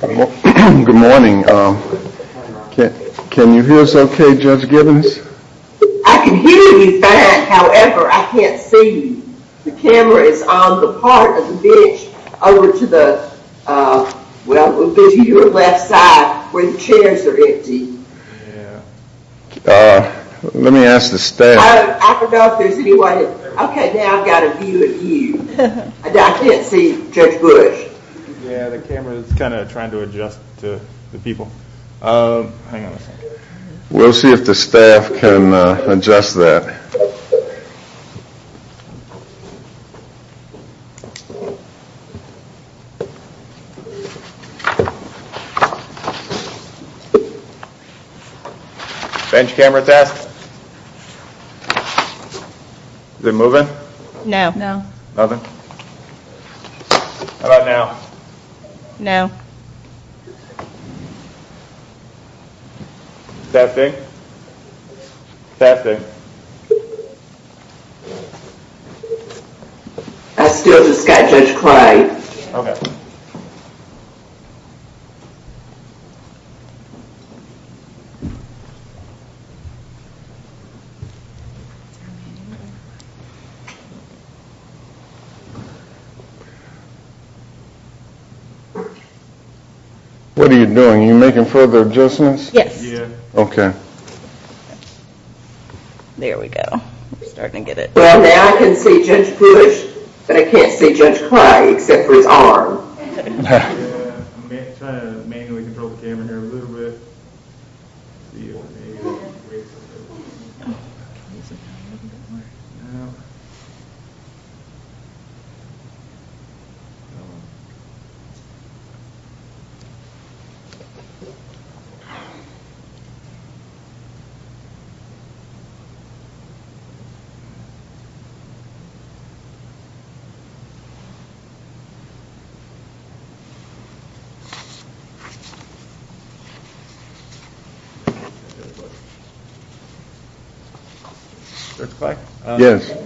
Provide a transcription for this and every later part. Good morning. Can you hear us okay, Judge Gibbons? I can hear you fine, however, I can't see you. The camera is on the part of the bench over to the left side where the chairs are empty. Let me ask the staff. Okay, now I've got a view of you. I can't see Judge Bush. Yeah, the camera is kind of trying to adjust to the people. Hang on a second. We'll see if the staff can adjust that. Bench camera test. Is it moving? No. Nothing? How about now? Now. Testing. Testing. I still just got Judge Clyde. Okay. What are you doing? Are you making further adjustments? Yes. Okay. There we go. Starting to get it. Well, now I can see Judge Bush, but I can't see Judge Clyde except for his arm. I'm trying to manually control the camera here a little bit. Judge Clyde? Yes.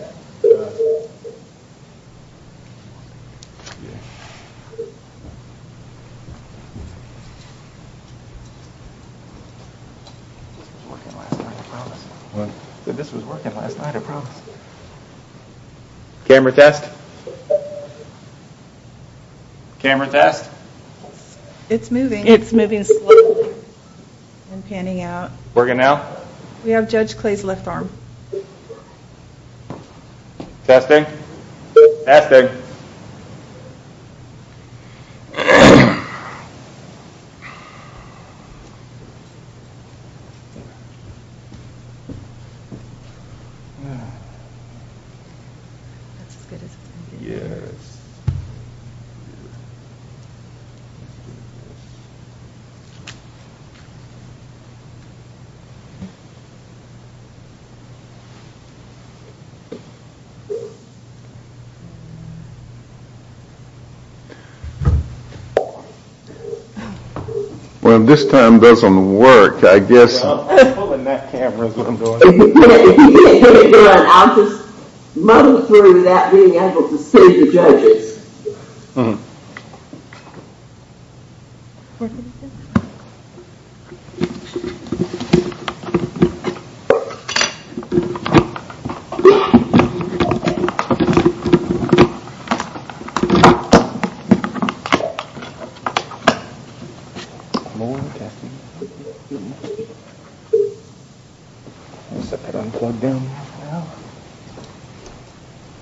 This was working last night, I promise. Camera test. Camera test. It's moving. It's moving slowly. I'm panning out. Working now? We have Judge Clyde's left arm. Testing. Testing. That's as good as it can get. Well, this time doesn't work, I guess. I'm pulling that camera. If you can't get it to run, I'll just muddle through that being able to save the judges.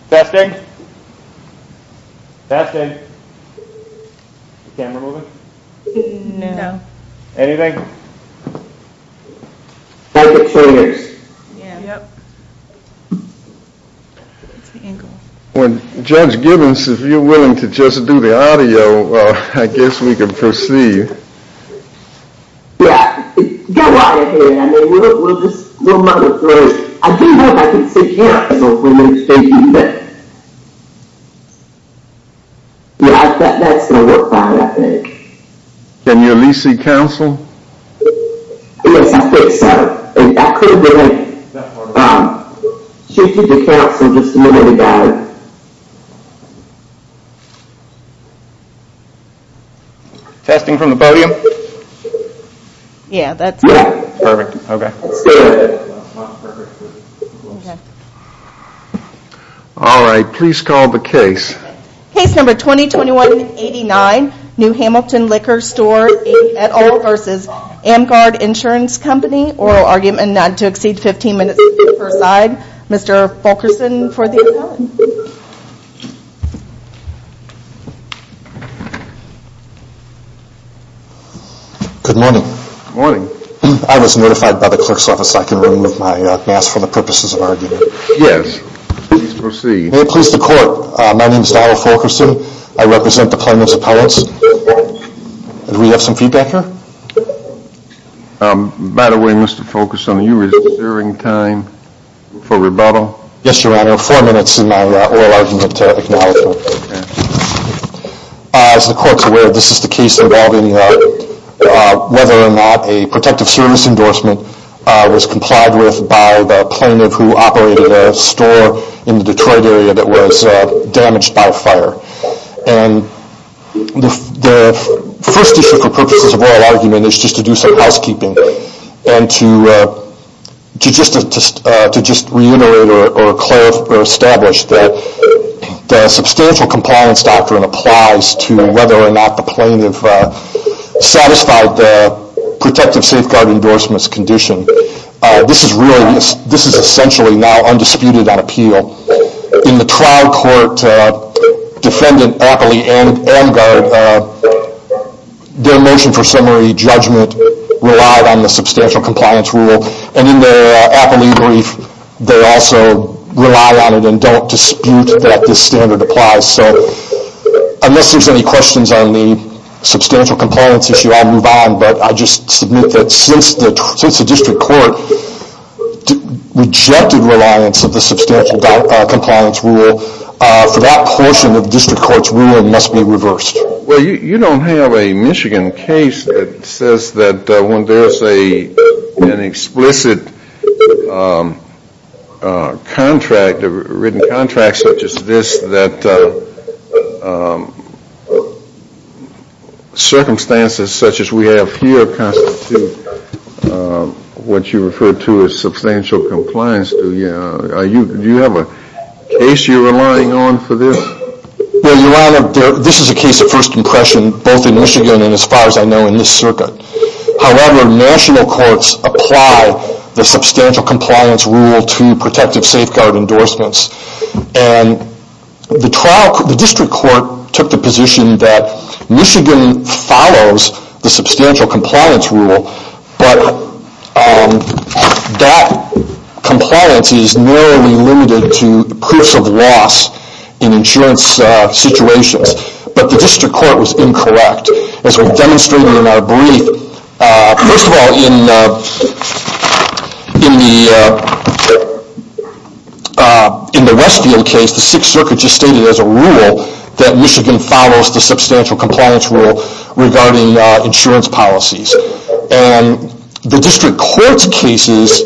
Testing. Testing. Testing. Is the camera moving? No. Anything? I'm trying to move it in here. Yep. It's the angle. Well, Judge Gibbons, if you're willing to just do the audio, I guess we can proceed. Yeah. Go right ahead. I mean, we'll just muddle through it. I do know if I can sit down, as a woman, and say give me that. Yeah. That's going to work fine, I think. Can you at least see counsel? Yes, I think so. If that's what you're willing to do. That's what I'm willing to do. Should you be counsel, just let me know. Testing from the podium? Yeah, that's good. Perfect. Okay. That's good. That's perfect. Okay. All right, please call the case. Case number 2021-89, New Hamilton Liquor Store, et al. versus Amgard Insurance Company. Oral argument not to exceed 15 minutes on the first side. Mr. Fulkerson for the audio. Good morning. Morning. I was notified by the clerk's office I can remove my mask for the purposes of argument. Yes. Please proceed. May it please the court. My name is Donald Fulkerson. I represent the plaintiff's appellants. Do we have some feedback here? By the way, Mr. Fulkerson, are you reserving time for rebuttal? Yes, Your Honor. Four minutes in my oral argument to acknowledge it. Okay. As the court's aware, this is the case involving whether or not a protective service endorsement was complied with by the plaintiff who operated a store in the Detroit area that was damaged by a fire. And the first issue for purposes of oral argument is just to do some housekeeping and to just reiterate or establish that the substantial compliance doctrine applies to whether or not the plaintiff satisfied the protective safeguard endorsement's condition. This is really, this is essentially now undisputed on appeal. In the trial court, Defendant Apley-Angard, their motion for summary judgment relied on the substantial compliance rule. And in their Apley brief, they also rely on it and don't dispute that this standard applies. So unless there's any questions on the substantial compliance issue, I'll move on. But I just submit that since the district court rejected reliance of the substantial compliance rule, for that portion of the district court's rule, it must be reversed. Well, you don't have a Michigan case that says that when there's an explicit contract, a written contract such as this, that circumstances such as we have here constitute what you refer to as substantial compliance. Do you have a case you're relying on for this? Well, Your Honor, this is a case of first impression both in Michigan and as far as I know in this circuit. However, national courts apply the substantial compliance rule to protective safeguard endorsements. And the district court took the position that Michigan follows the substantial compliance rule, but that compliance is narrowly limited to proofs of loss in insurance situations. But the district court was incorrect. As we've demonstrated in our brief, first of all, in the Westfield case, the Sixth Circuit just stated as a rule that Michigan follows the substantial compliance rule regarding insurance policies. And the district court's cases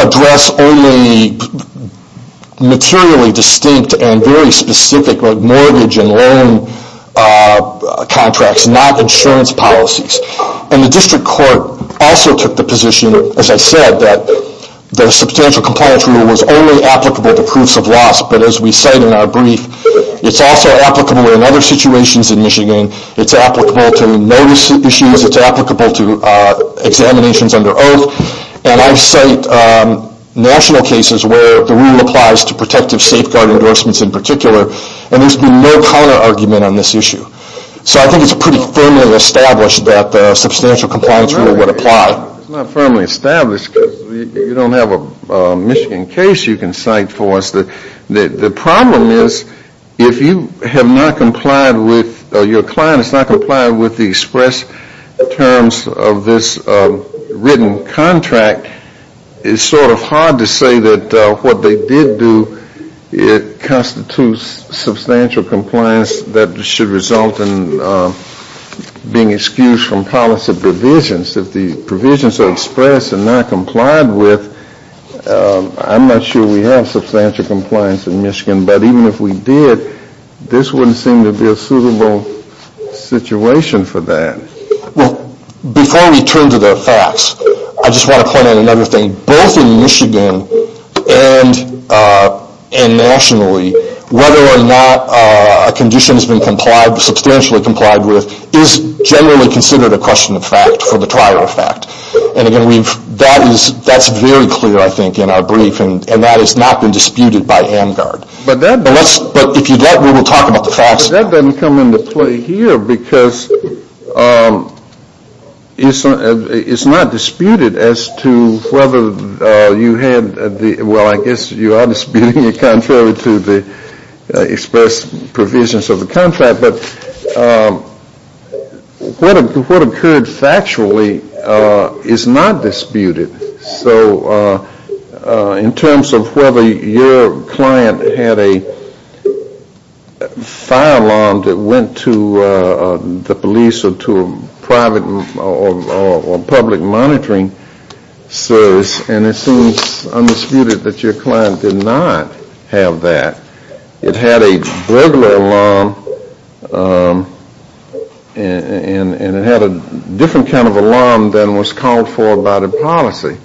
address only materially distinct and very specific mortgage and loan contracts, not insurance policies. And the district court also took the position, as I said, that the substantial compliance rule was only applicable to proofs of loss. But as we cite in our brief, it's also applicable in other situations in Michigan. It's applicable to notice issues. It's applicable to examinations under oath. And I cite national cases where the rule applies to protective safeguard endorsements in particular. And there's been no counterargument on this issue. So I think it's pretty firmly established that the substantial compliance rule would apply. It's not firmly established because you don't have a Michigan case you can cite for us. The problem is if you have not complied with, your client has not complied with the express terms of this written contract, it's sort of hard to say that what they did do constitutes substantial compliance that should result in being excused from policy provisions. If the provisions are expressed and not complied with, I'm not sure we have substantial compliance in Michigan. But even if we did, this wouldn't seem to be a suitable situation for that. Well, before we turn to the facts, I just want to point out another thing. Both in Michigan and nationally, whether or not a condition has been substantially complied with is generally considered a question of fact for the trial effect. And again, that's very clear, I think, in our brief. And that has not been disputed by AMGARD. But if you don't, we will talk about the facts. Well, that doesn't come into play here because it's not disputed as to whether you had the – well, I guess you are disputing it contrary to the express provisions of the contract. But what occurred factually is not disputed. So in terms of whether your client had a fire alarm that went to the police or to a private or public monitoring service, and it seems undisputed that your client did not have that. It had a burglar alarm and it had a different kind of alarm than was called for by the policy.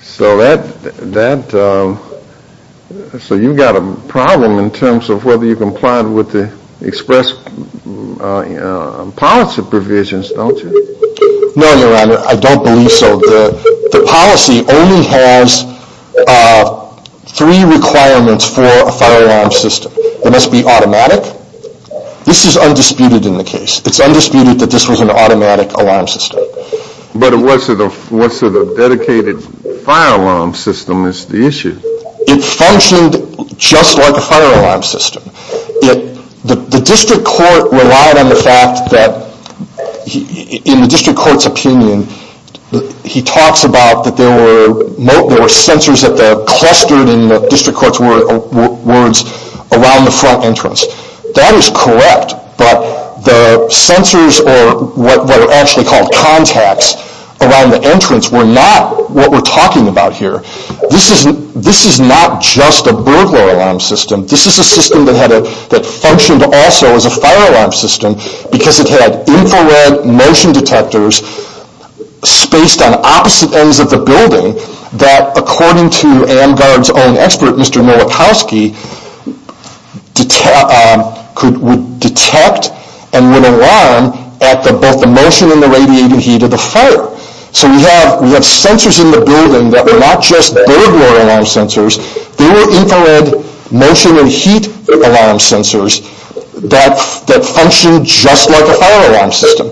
So that – so you've got a problem in terms of whether you complied with the express policy provisions, don't you? No, Your Honor, I don't believe so. The policy only has three requirements for a fire alarm system. It must be automatic. This is undisputed in the case. It's undisputed that this was an automatic alarm system. But was it a dedicated fire alarm system is the issue. It functioned just like a fire alarm system. The district court relied on the fact that – in the district court's opinion, he talks about that there were sensors that were clustered in the district court's words around the front entrance. That is correct, but the sensors or what are actually called contacts around the entrance were not what we're talking about here. This is not just a burglar alarm system. This is a system that had a – that functioned also as a fire alarm system because it had infrared motion detectors spaced on opposite ends of the building that, according to AmGuard's own expert, Mr. Nowakowski, could detect and would alarm at both the motion and the radiating heat of the fire. So we have sensors in the building that were not just burglar alarm sensors. They were infrared motion and heat alarm sensors that functioned just like a fire alarm system.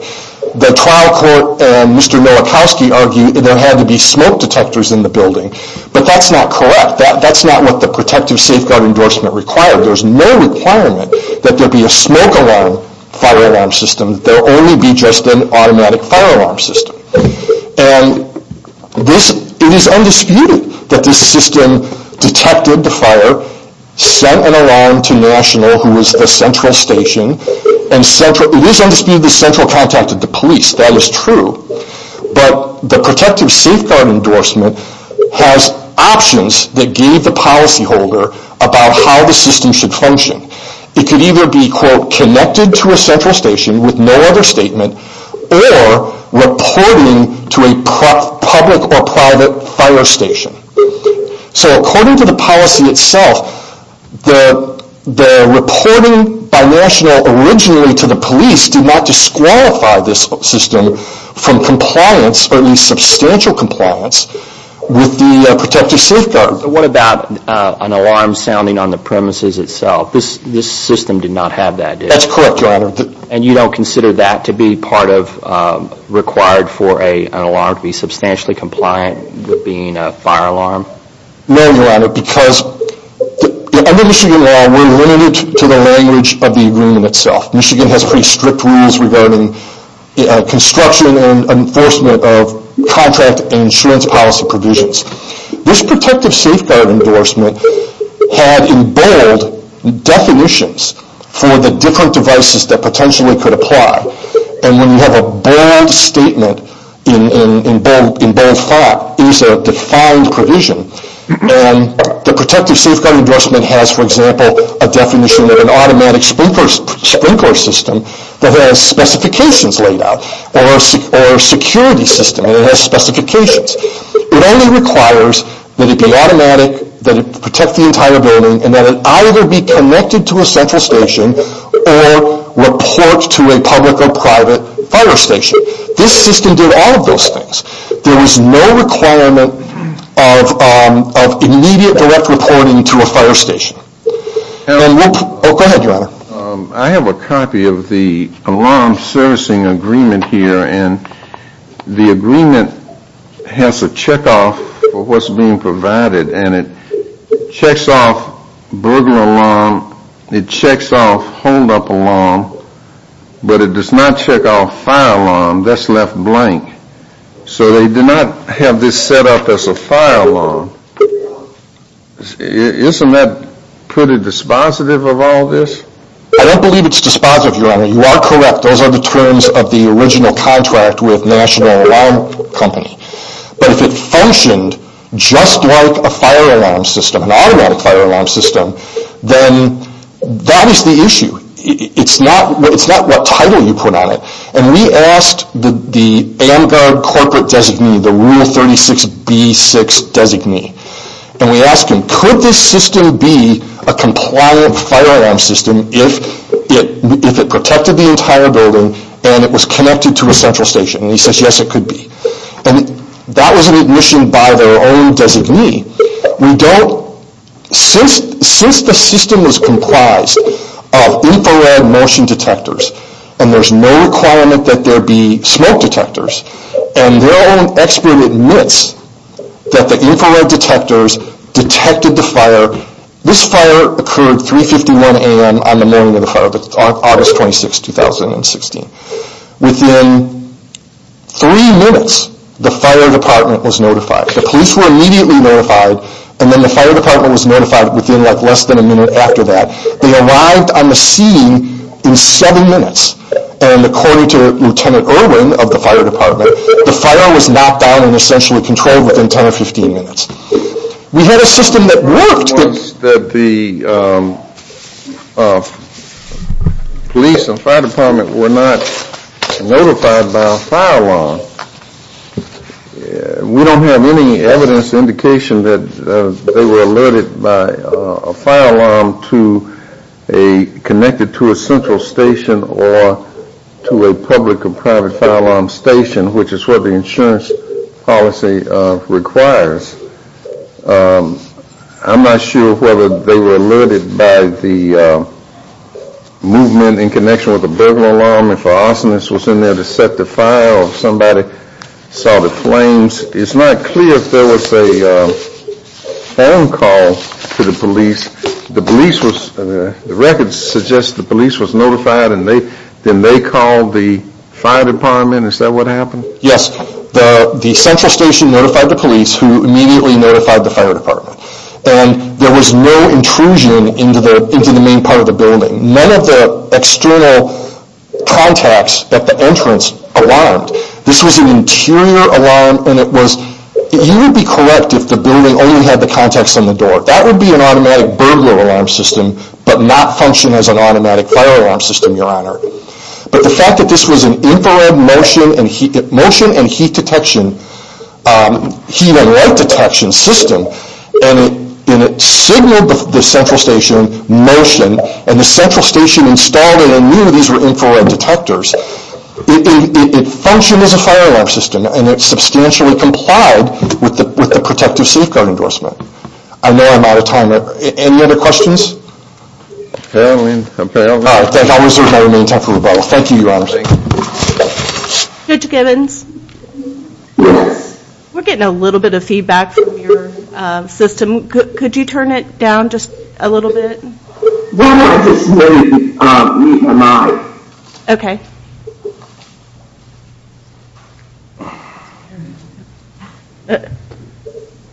The trial court and Mr. Nowakowski argued that there had to be smoke detectors in the building, but that's not correct. That's not what the protective safeguard endorsement required. There's no requirement that there be a smoke alarm fire alarm system. There will only be just an automatic fire alarm system. And it is undisputed that this system detected the fire, sent an alarm to National, who is the central station, and it is undisputed that Central contacted the police. That is true, but the protective safeguard endorsement has options that gave the policyholder about how the system should function. It could either be, quote, connected to a central station with no other statement or reporting to a public or private fire station. So according to the policy itself, the reporting by National originally to the police did not disqualify this system from compliance, or at least substantial compliance, with the protective safeguard. What about an alarm sounding on the premises itself? This system did not have that, did it? That's correct, Your Honor. And you don't consider that to be part of required for an alarm to be substantially compliant with being a fire alarm? No, Your Honor, because under Michigan law, we're limited to the language of the agreement itself. Michigan has pretty strict rules regarding construction and enforcement of contract and insurance policy provisions. This protective safeguard endorsement had in bold definitions for the different devices that potentially could apply. And when you have a bold statement in bold thought, it is a defined provision. The protective safeguard endorsement has, for example, a definition of an automatic sprinkler system that has specifications laid out, or a security system that has specifications. It only requires that it be automatic, that it protect the entire building, and that it either be connected to a central station or report to a public or private fire station. This system did all of those things. There was no requirement of immediate direct reporting to a fire station. Go ahead, Your Honor. I have a copy of the alarm servicing agreement here. And the agreement has a checkoff for what's being provided. And it checks off burglar alarm. It checks off hold-up alarm. But it does not check off fire alarm. That's left blank. So they did not have this set up as a fire alarm. Isn't that pretty dispositive of all this? I don't believe it's dispositive, Your Honor. You are correct. Those are the terms of the original contract with National Alarm Company. But if it functioned just like a fire alarm system, an automatic fire alarm system, then that is the issue. It's not what title you put on it. And we asked the AMGARD corporate designee, the Rule 36B-6 designee, and we asked him, could this system be a compliant fire alarm system if it protected the entire building and it was connected to a central station? And he says, yes, it could be. And that was an admission by their own designee. Since the system was comprised of infrared motion detectors, and there's no requirement that there be smoke detectors, and their own expert admits that the infrared detectors detected the fire. This fire occurred 3.51 a.m. on the morning of the fire, August 26, 2016. Within three minutes, the fire department was notified. The police were immediately notified. And then the fire department was notified within less than a minute after that. They arrived on the scene in seven minutes. And according to Lieutenant Irwin of the fire department, the fire was knocked down and essentially controlled within 10 or 15 minutes. We had a system that worked. Once the police and fire department were not notified by a fire alarm, we don't have any evidence indication that they were alerted by a fire alarm connected to a central station or to a public or private fire alarm station, which is what the insurance policy requires. I'm not sure whether they were alerted by the movement in connection with the burglar alarm, if an arsonist was in there to set the fire, or somebody saw the flames. It's not clear if there was a phone call to the police. The police was, the records suggest the police was notified and then they called the fire department. Is that what happened? Yes. The central station notified the police, who immediately notified the fire department. And there was no intrusion into the main part of the building. None of the external contacts at the entrance alarmed. This was an interior alarm and it was, you would be correct if the building only had the contacts on the door. That would be an automatic burglar alarm system, but not function as an automatic fire alarm system, Your Honor. But the fact that this was an infrared motion and heat detection, heat and light detection system, and it signaled the central station motion, and the central station installed it and knew these were infrared detectors, it functioned as a fire alarm system and it substantially complied with the protective safeguard endorsement. I know I'm out of time. Any other questions? Apparently, apparently not. Thank you, Your Honor. Judge Gibbons? Yes. We're getting a little bit of feedback from your system. Could you turn it down just a little bit? No, no, I just wanted to read my mind. Okay.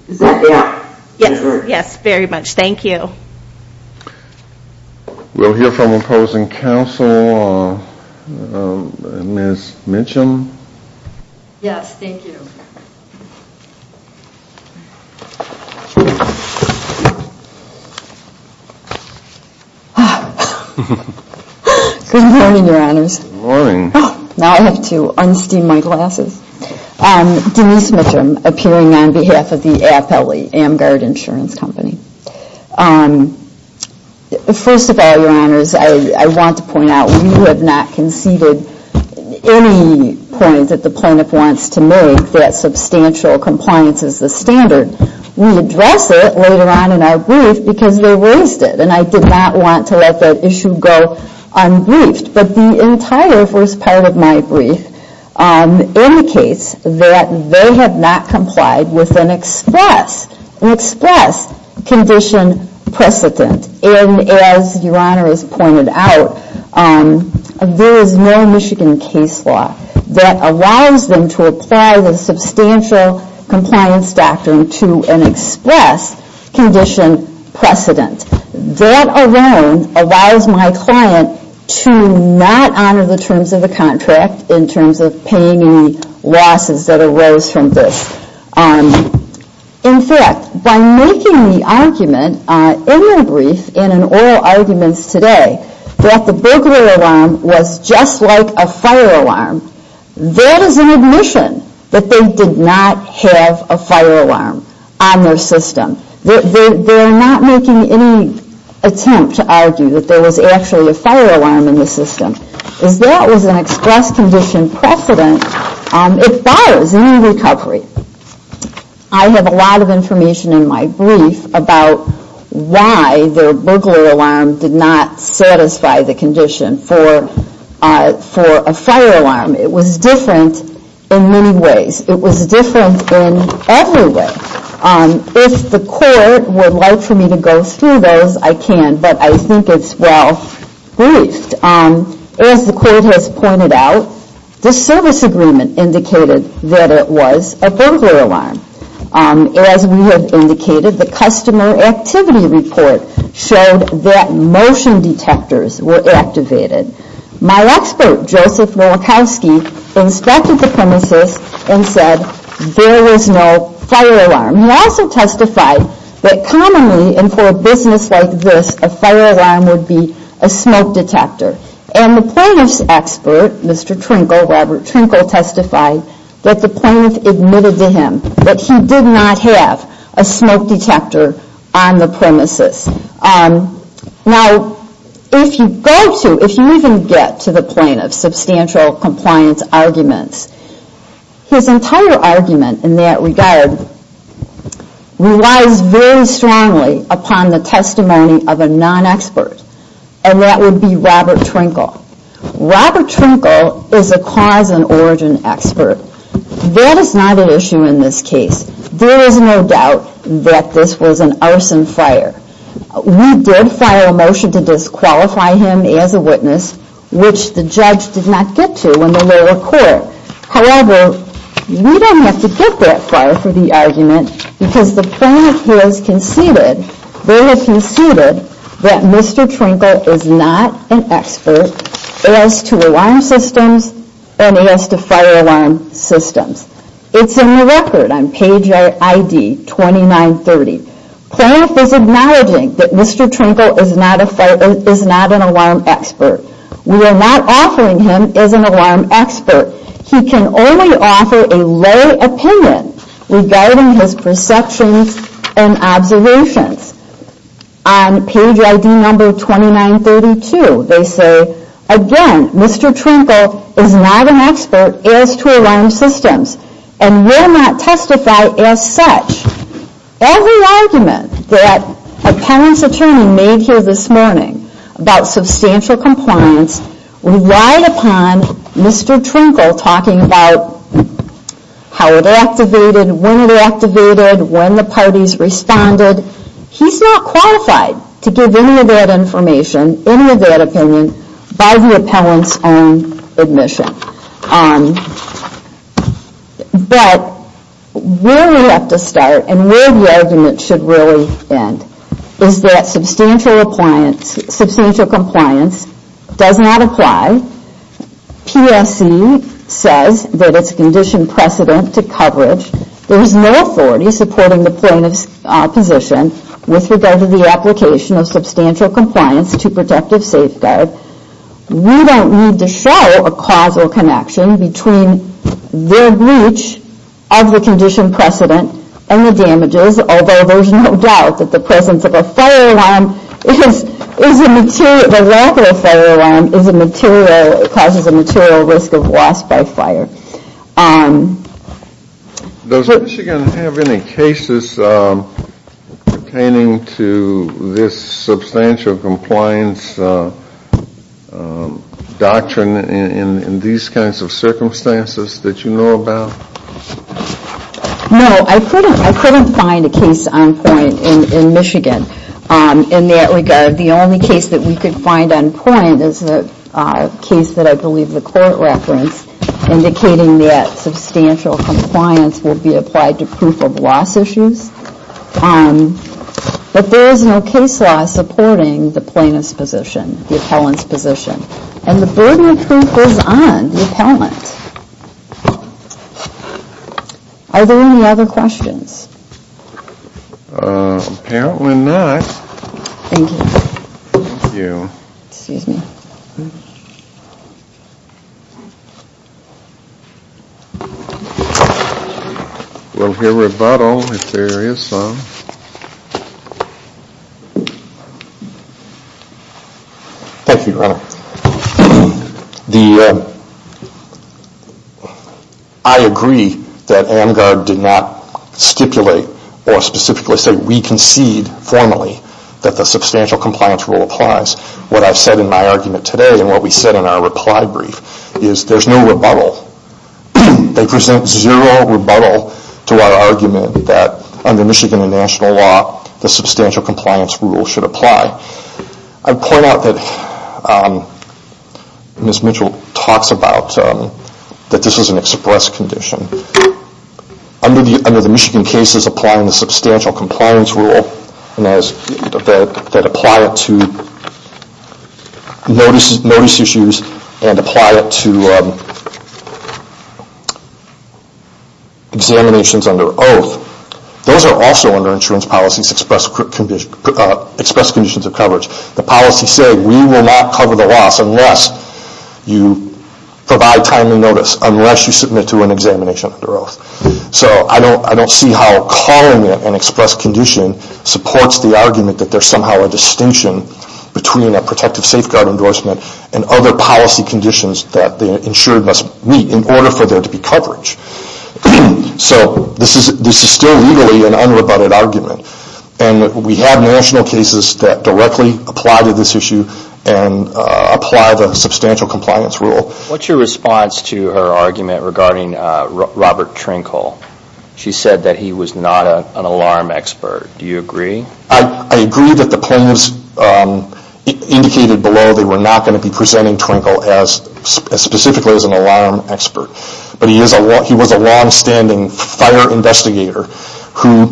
Is that better? Yes, yes, very much. Thank you. We'll hear from opposing counsel, Ms. Mitchum. Yes, thank you. Good morning, Your Honors. Good morning. Now I have to unsteam my glasses. Denise Mitchum, appearing on behalf of the AFLE, Amgard Insurance Company. First of all, Your Honors, I want to point out, we have not conceded any point that the plaintiff wants to make that substantial compliance is the standard. We address it later on in our brief because they raised it, and I did not want to let that issue go unbriefed. But the entire first part of my brief indicates that they have not complied with an express condition precedent. And as Your Honor has pointed out, there is no Michigan case law that allows them to apply the substantial compliance doctrine to an express condition precedent. That alone allows my client to not honor the terms of the contract in terms of paying any losses that arose from this. In fact, by making the argument in my brief and in oral arguments today that the burglary alarm was just like a fire alarm, that is an admission that they did not have a fire alarm on their system. They are not making any attempt to argue that there was actually a fire alarm in the system. As that was an express condition precedent, it bothers any recovery. I have a lot of information in my brief about why their burglar alarm did not satisfy the condition for a fire alarm. It was different in many ways. It was different in every way. If the court would like for me to go through those, I can, but I think it's well briefed. As the court has pointed out, the service agreement indicated that it was a burglar alarm. As we have indicated, the customer activity report showed that motion detectors were activated. My expert, Joseph Nowakowski, inspected the premises and said there was no fire alarm. He also testified that commonly, and for a business like this, a fire alarm would be a smoke detector. And the plaintiff's expert, Mr. Trinkle, Robert Trinkle, testified that the plaintiff admitted to him that he did not have a smoke detector on the premises. Now, if you go to, if you even get to the plaintiff's substantial compliance arguments, his entire argument in that regard relies very strongly upon the testimony of a non-expert, and that would be Robert Trinkle. Robert Trinkle is a cause and origin expert. That is not an issue in this case. There is no doubt that this was an arson fire. We did file a motion to disqualify him as a witness, which the judge did not get to in the lower court. However, we don't have to get that far for the argument, because the plaintiff has conceded, they have conceded, that Mr. Trinkle is not an expert as to alarm systems and as to fire alarm systems. It's in the record on page ID 2930. Plaintiff is acknowledging that Mr. Trinkle is not an alarm expert. We are not offering him as an alarm expert. He can only offer a low opinion regarding his perceptions and observations. On page ID number 2932, they say, again, Mr. Trinkle is not an expert as to alarm systems, and will not testify as such. Every argument that an appellant's attorney made here this morning about substantial compliance relied upon Mr. Trinkle talking about how it activated, when it activated, when the parties responded. He's not qualified to give any of that information, any of that opinion, by the appellant's own admission. But where we have to start and where the argument should really end is that substantial compliance does not apply. PSE says that it's conditioned precedent to coverage. There is no authority supporting the plaintiff's position with regard to the application of substantial compliance to protective safeguard. We don't need to show a causal connection between their breach of the conditioned precedent and the damages, although there's no doubt that the presence of a fire alarm is a material, the lack of a fire alarm is a material, causes a material risk of loss by fire. Does Michigan have any cases pertaining to this substantial compliance doctrine in these kinds of circumstances that you know about? No, I couldn't find a case on point in Michigan in that regard. The only case that we could find on point is a case that I believe the court referenced indicating that substantial compliance would be applied to proof of loss issues. But there is no case law supporting the plaintiff's position, the appellant's position. And the burden of proof is on the appellant. Are there any other questions? Apparently not. Thank you. We'll hear rebuttal if there is some. Thank you, Your Honor. I agree that AMGARD did not stipulate or specifically say we concede formally that the substantial compliance rule applies. What I've said in my argument today and what we said in our reply brief is there's no rebuttal. They present zero rebuttal to our argument that under Michigan and national law, the substantial compliance rule should apply. I point out that Ms. Mitchell talks about that this is an express condition. Under the Michigan cases applying the substantial compliance rule that apply it to notice issues and apply it to examinations under oath, those are also under insurance policies express conditions of coverage. The policies say we will not cover the loss unless you provide timely notice, unless you submit to an examination under oath. So I don't see how calling it an express condition supports the argument that there's somehow a distinction between a protective safeguard endorsement and other policy conditions that the insured must meet in order for there to be coverage. So this is still legally an unrebutted argument. And we have national cases that directly apply to this issue and apply the substantial compliance rule. What's your response to her argument regarding Robert Trinkle? She said that he was not an alarm expert. Do you agree? I agree that the claims indicated below they were not going to be presenting Trinkle specifically as an alarm expert. But he was a longstanding fire investigator who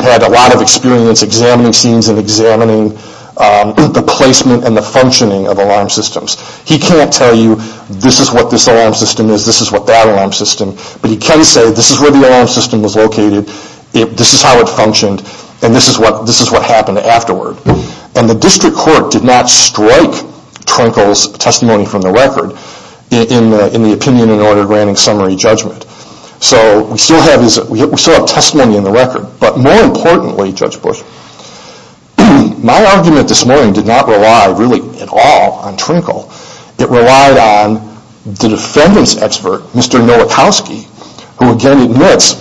had a lot of experience examining scenes and examining the placement and the functioning of alarm systems. He can't tell you this is what this alarm system is, this is what that alarm system is, but he can say this is where the alarm system was located, this is how it functioned, and this is what happened afterward. And the district court did not strike Trinkle's testimony from the record in the opinion in order to grant him summary judgment. But more importantly, Judge Bush, my argument this morning did not rely at all on Trinkle. It relied on the defendant's expert, Mr. Nowakowski, who again admits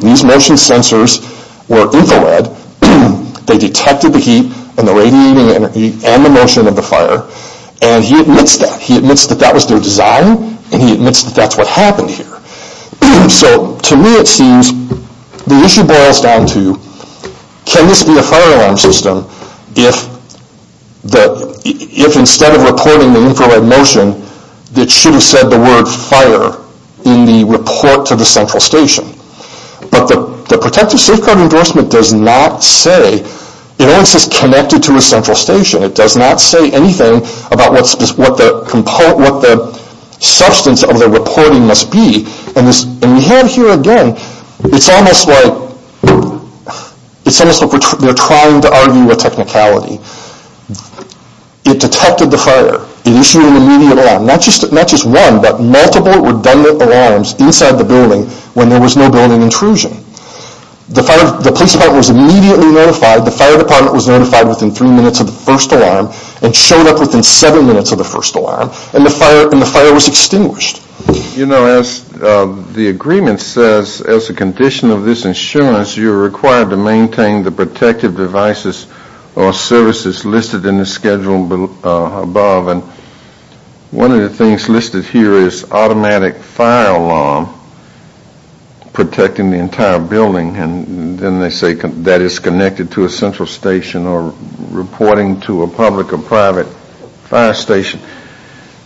these motion sensors were infrared, they detected the heat and the radiating energy and the motion of the fire, and he admits that. He admits that that was their design and he admits that that's what happened here. So to me it seems the issue boils down to, can this be a fire alarm system if instead of reporting the infrared motion, it should have said the word fire in the report to the central station. But the protective safeguard endorsement does not say, it only says connected to a central station. It does not say anything about what the substance of the reporting must be. And we have here again, it's almost like they're trying to argue a technicality. It detected the fire, it issued an immediate alarm, not just one but multiple redundant alarms inside the building when there was no building intrusion. The police department was immediately notified, the fire department was notified within three minutes of the first alarm and showed up within seven minutes of the first alarm and the fire was extinguished. You know, as the agreement says, as a condition of this insurance, you're required to maintain the protective devices or services listed in the schedule above. One of the things listed here is automatic fire alarm, protecting the entire building and then they say that is connected to a central station or reporting to a public or private fire station.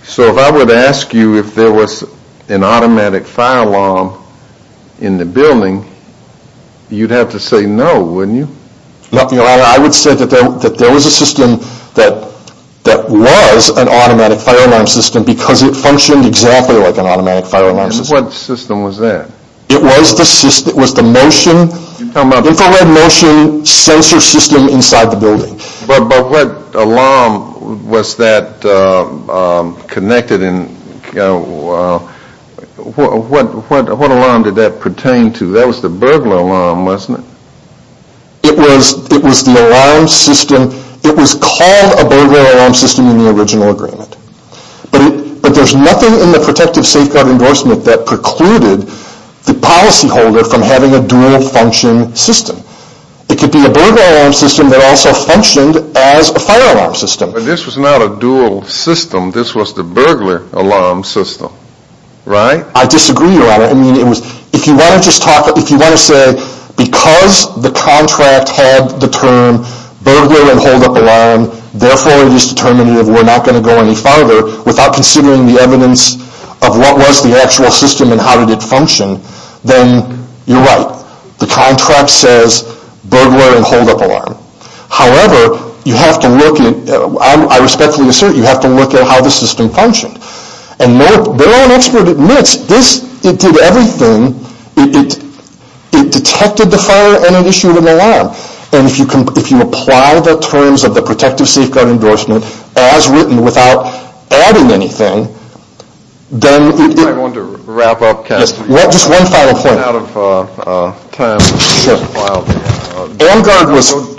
So if I were to ask you if there was an automatic fire alarm in the building, you'd have to say no, wouldn't you? I would say that there was a system that was an automatic fire alarm system because it functioned exactly like an automatic fire alarm system. What system was that? It was the motion, infrared motion sensor system inside the building. But what alarm was that connected and what alarm did that pertain to? That was the burglar alarm, wasn't it? It was the alarm system, it was called a burglar alarm system in the original agreement. But there's nothing in the protective safeguard endorsement that precluded the policyholder from having a dual function system. It could be a burglar alarm system that also functioned as a fire alarm system. But this was not a dual system, this was the burglar alarm system, right? I disagree, Your Honor. If you want to say because the contract had the term burglar and hold up alarm, therefore it is determinative, we're not going to go any farther without considering the evidence of what was the actual system and how did it function, then you're right. The contract says burglar and hold up alarm. However, you have to look at, I respectfully assert, you have to look at how the system functioned. And no one expert admits this, it did everything, it detected the fire and it issued an alarm. And if you apply the terms of the protective safeguard endorsement as written without adding anything, then... I wanted to wrap up, Counselor.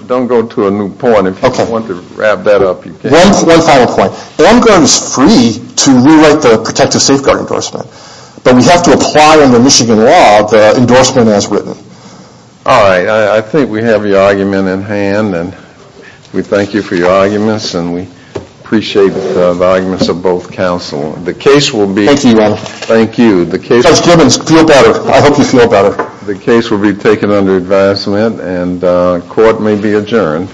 Don't go to a new point, if you want to wrap that up, you can. One final point. AMGARD is free to rewrite the protective safeguard endorsement, but we have to apply under Michigan law the endorsement as written. All right, I think we have your argument in hand and we thank you for your arguments and we appreciate the arguments of both Counselors. Thank you. The case will be taken under advisement and court may be adjourned.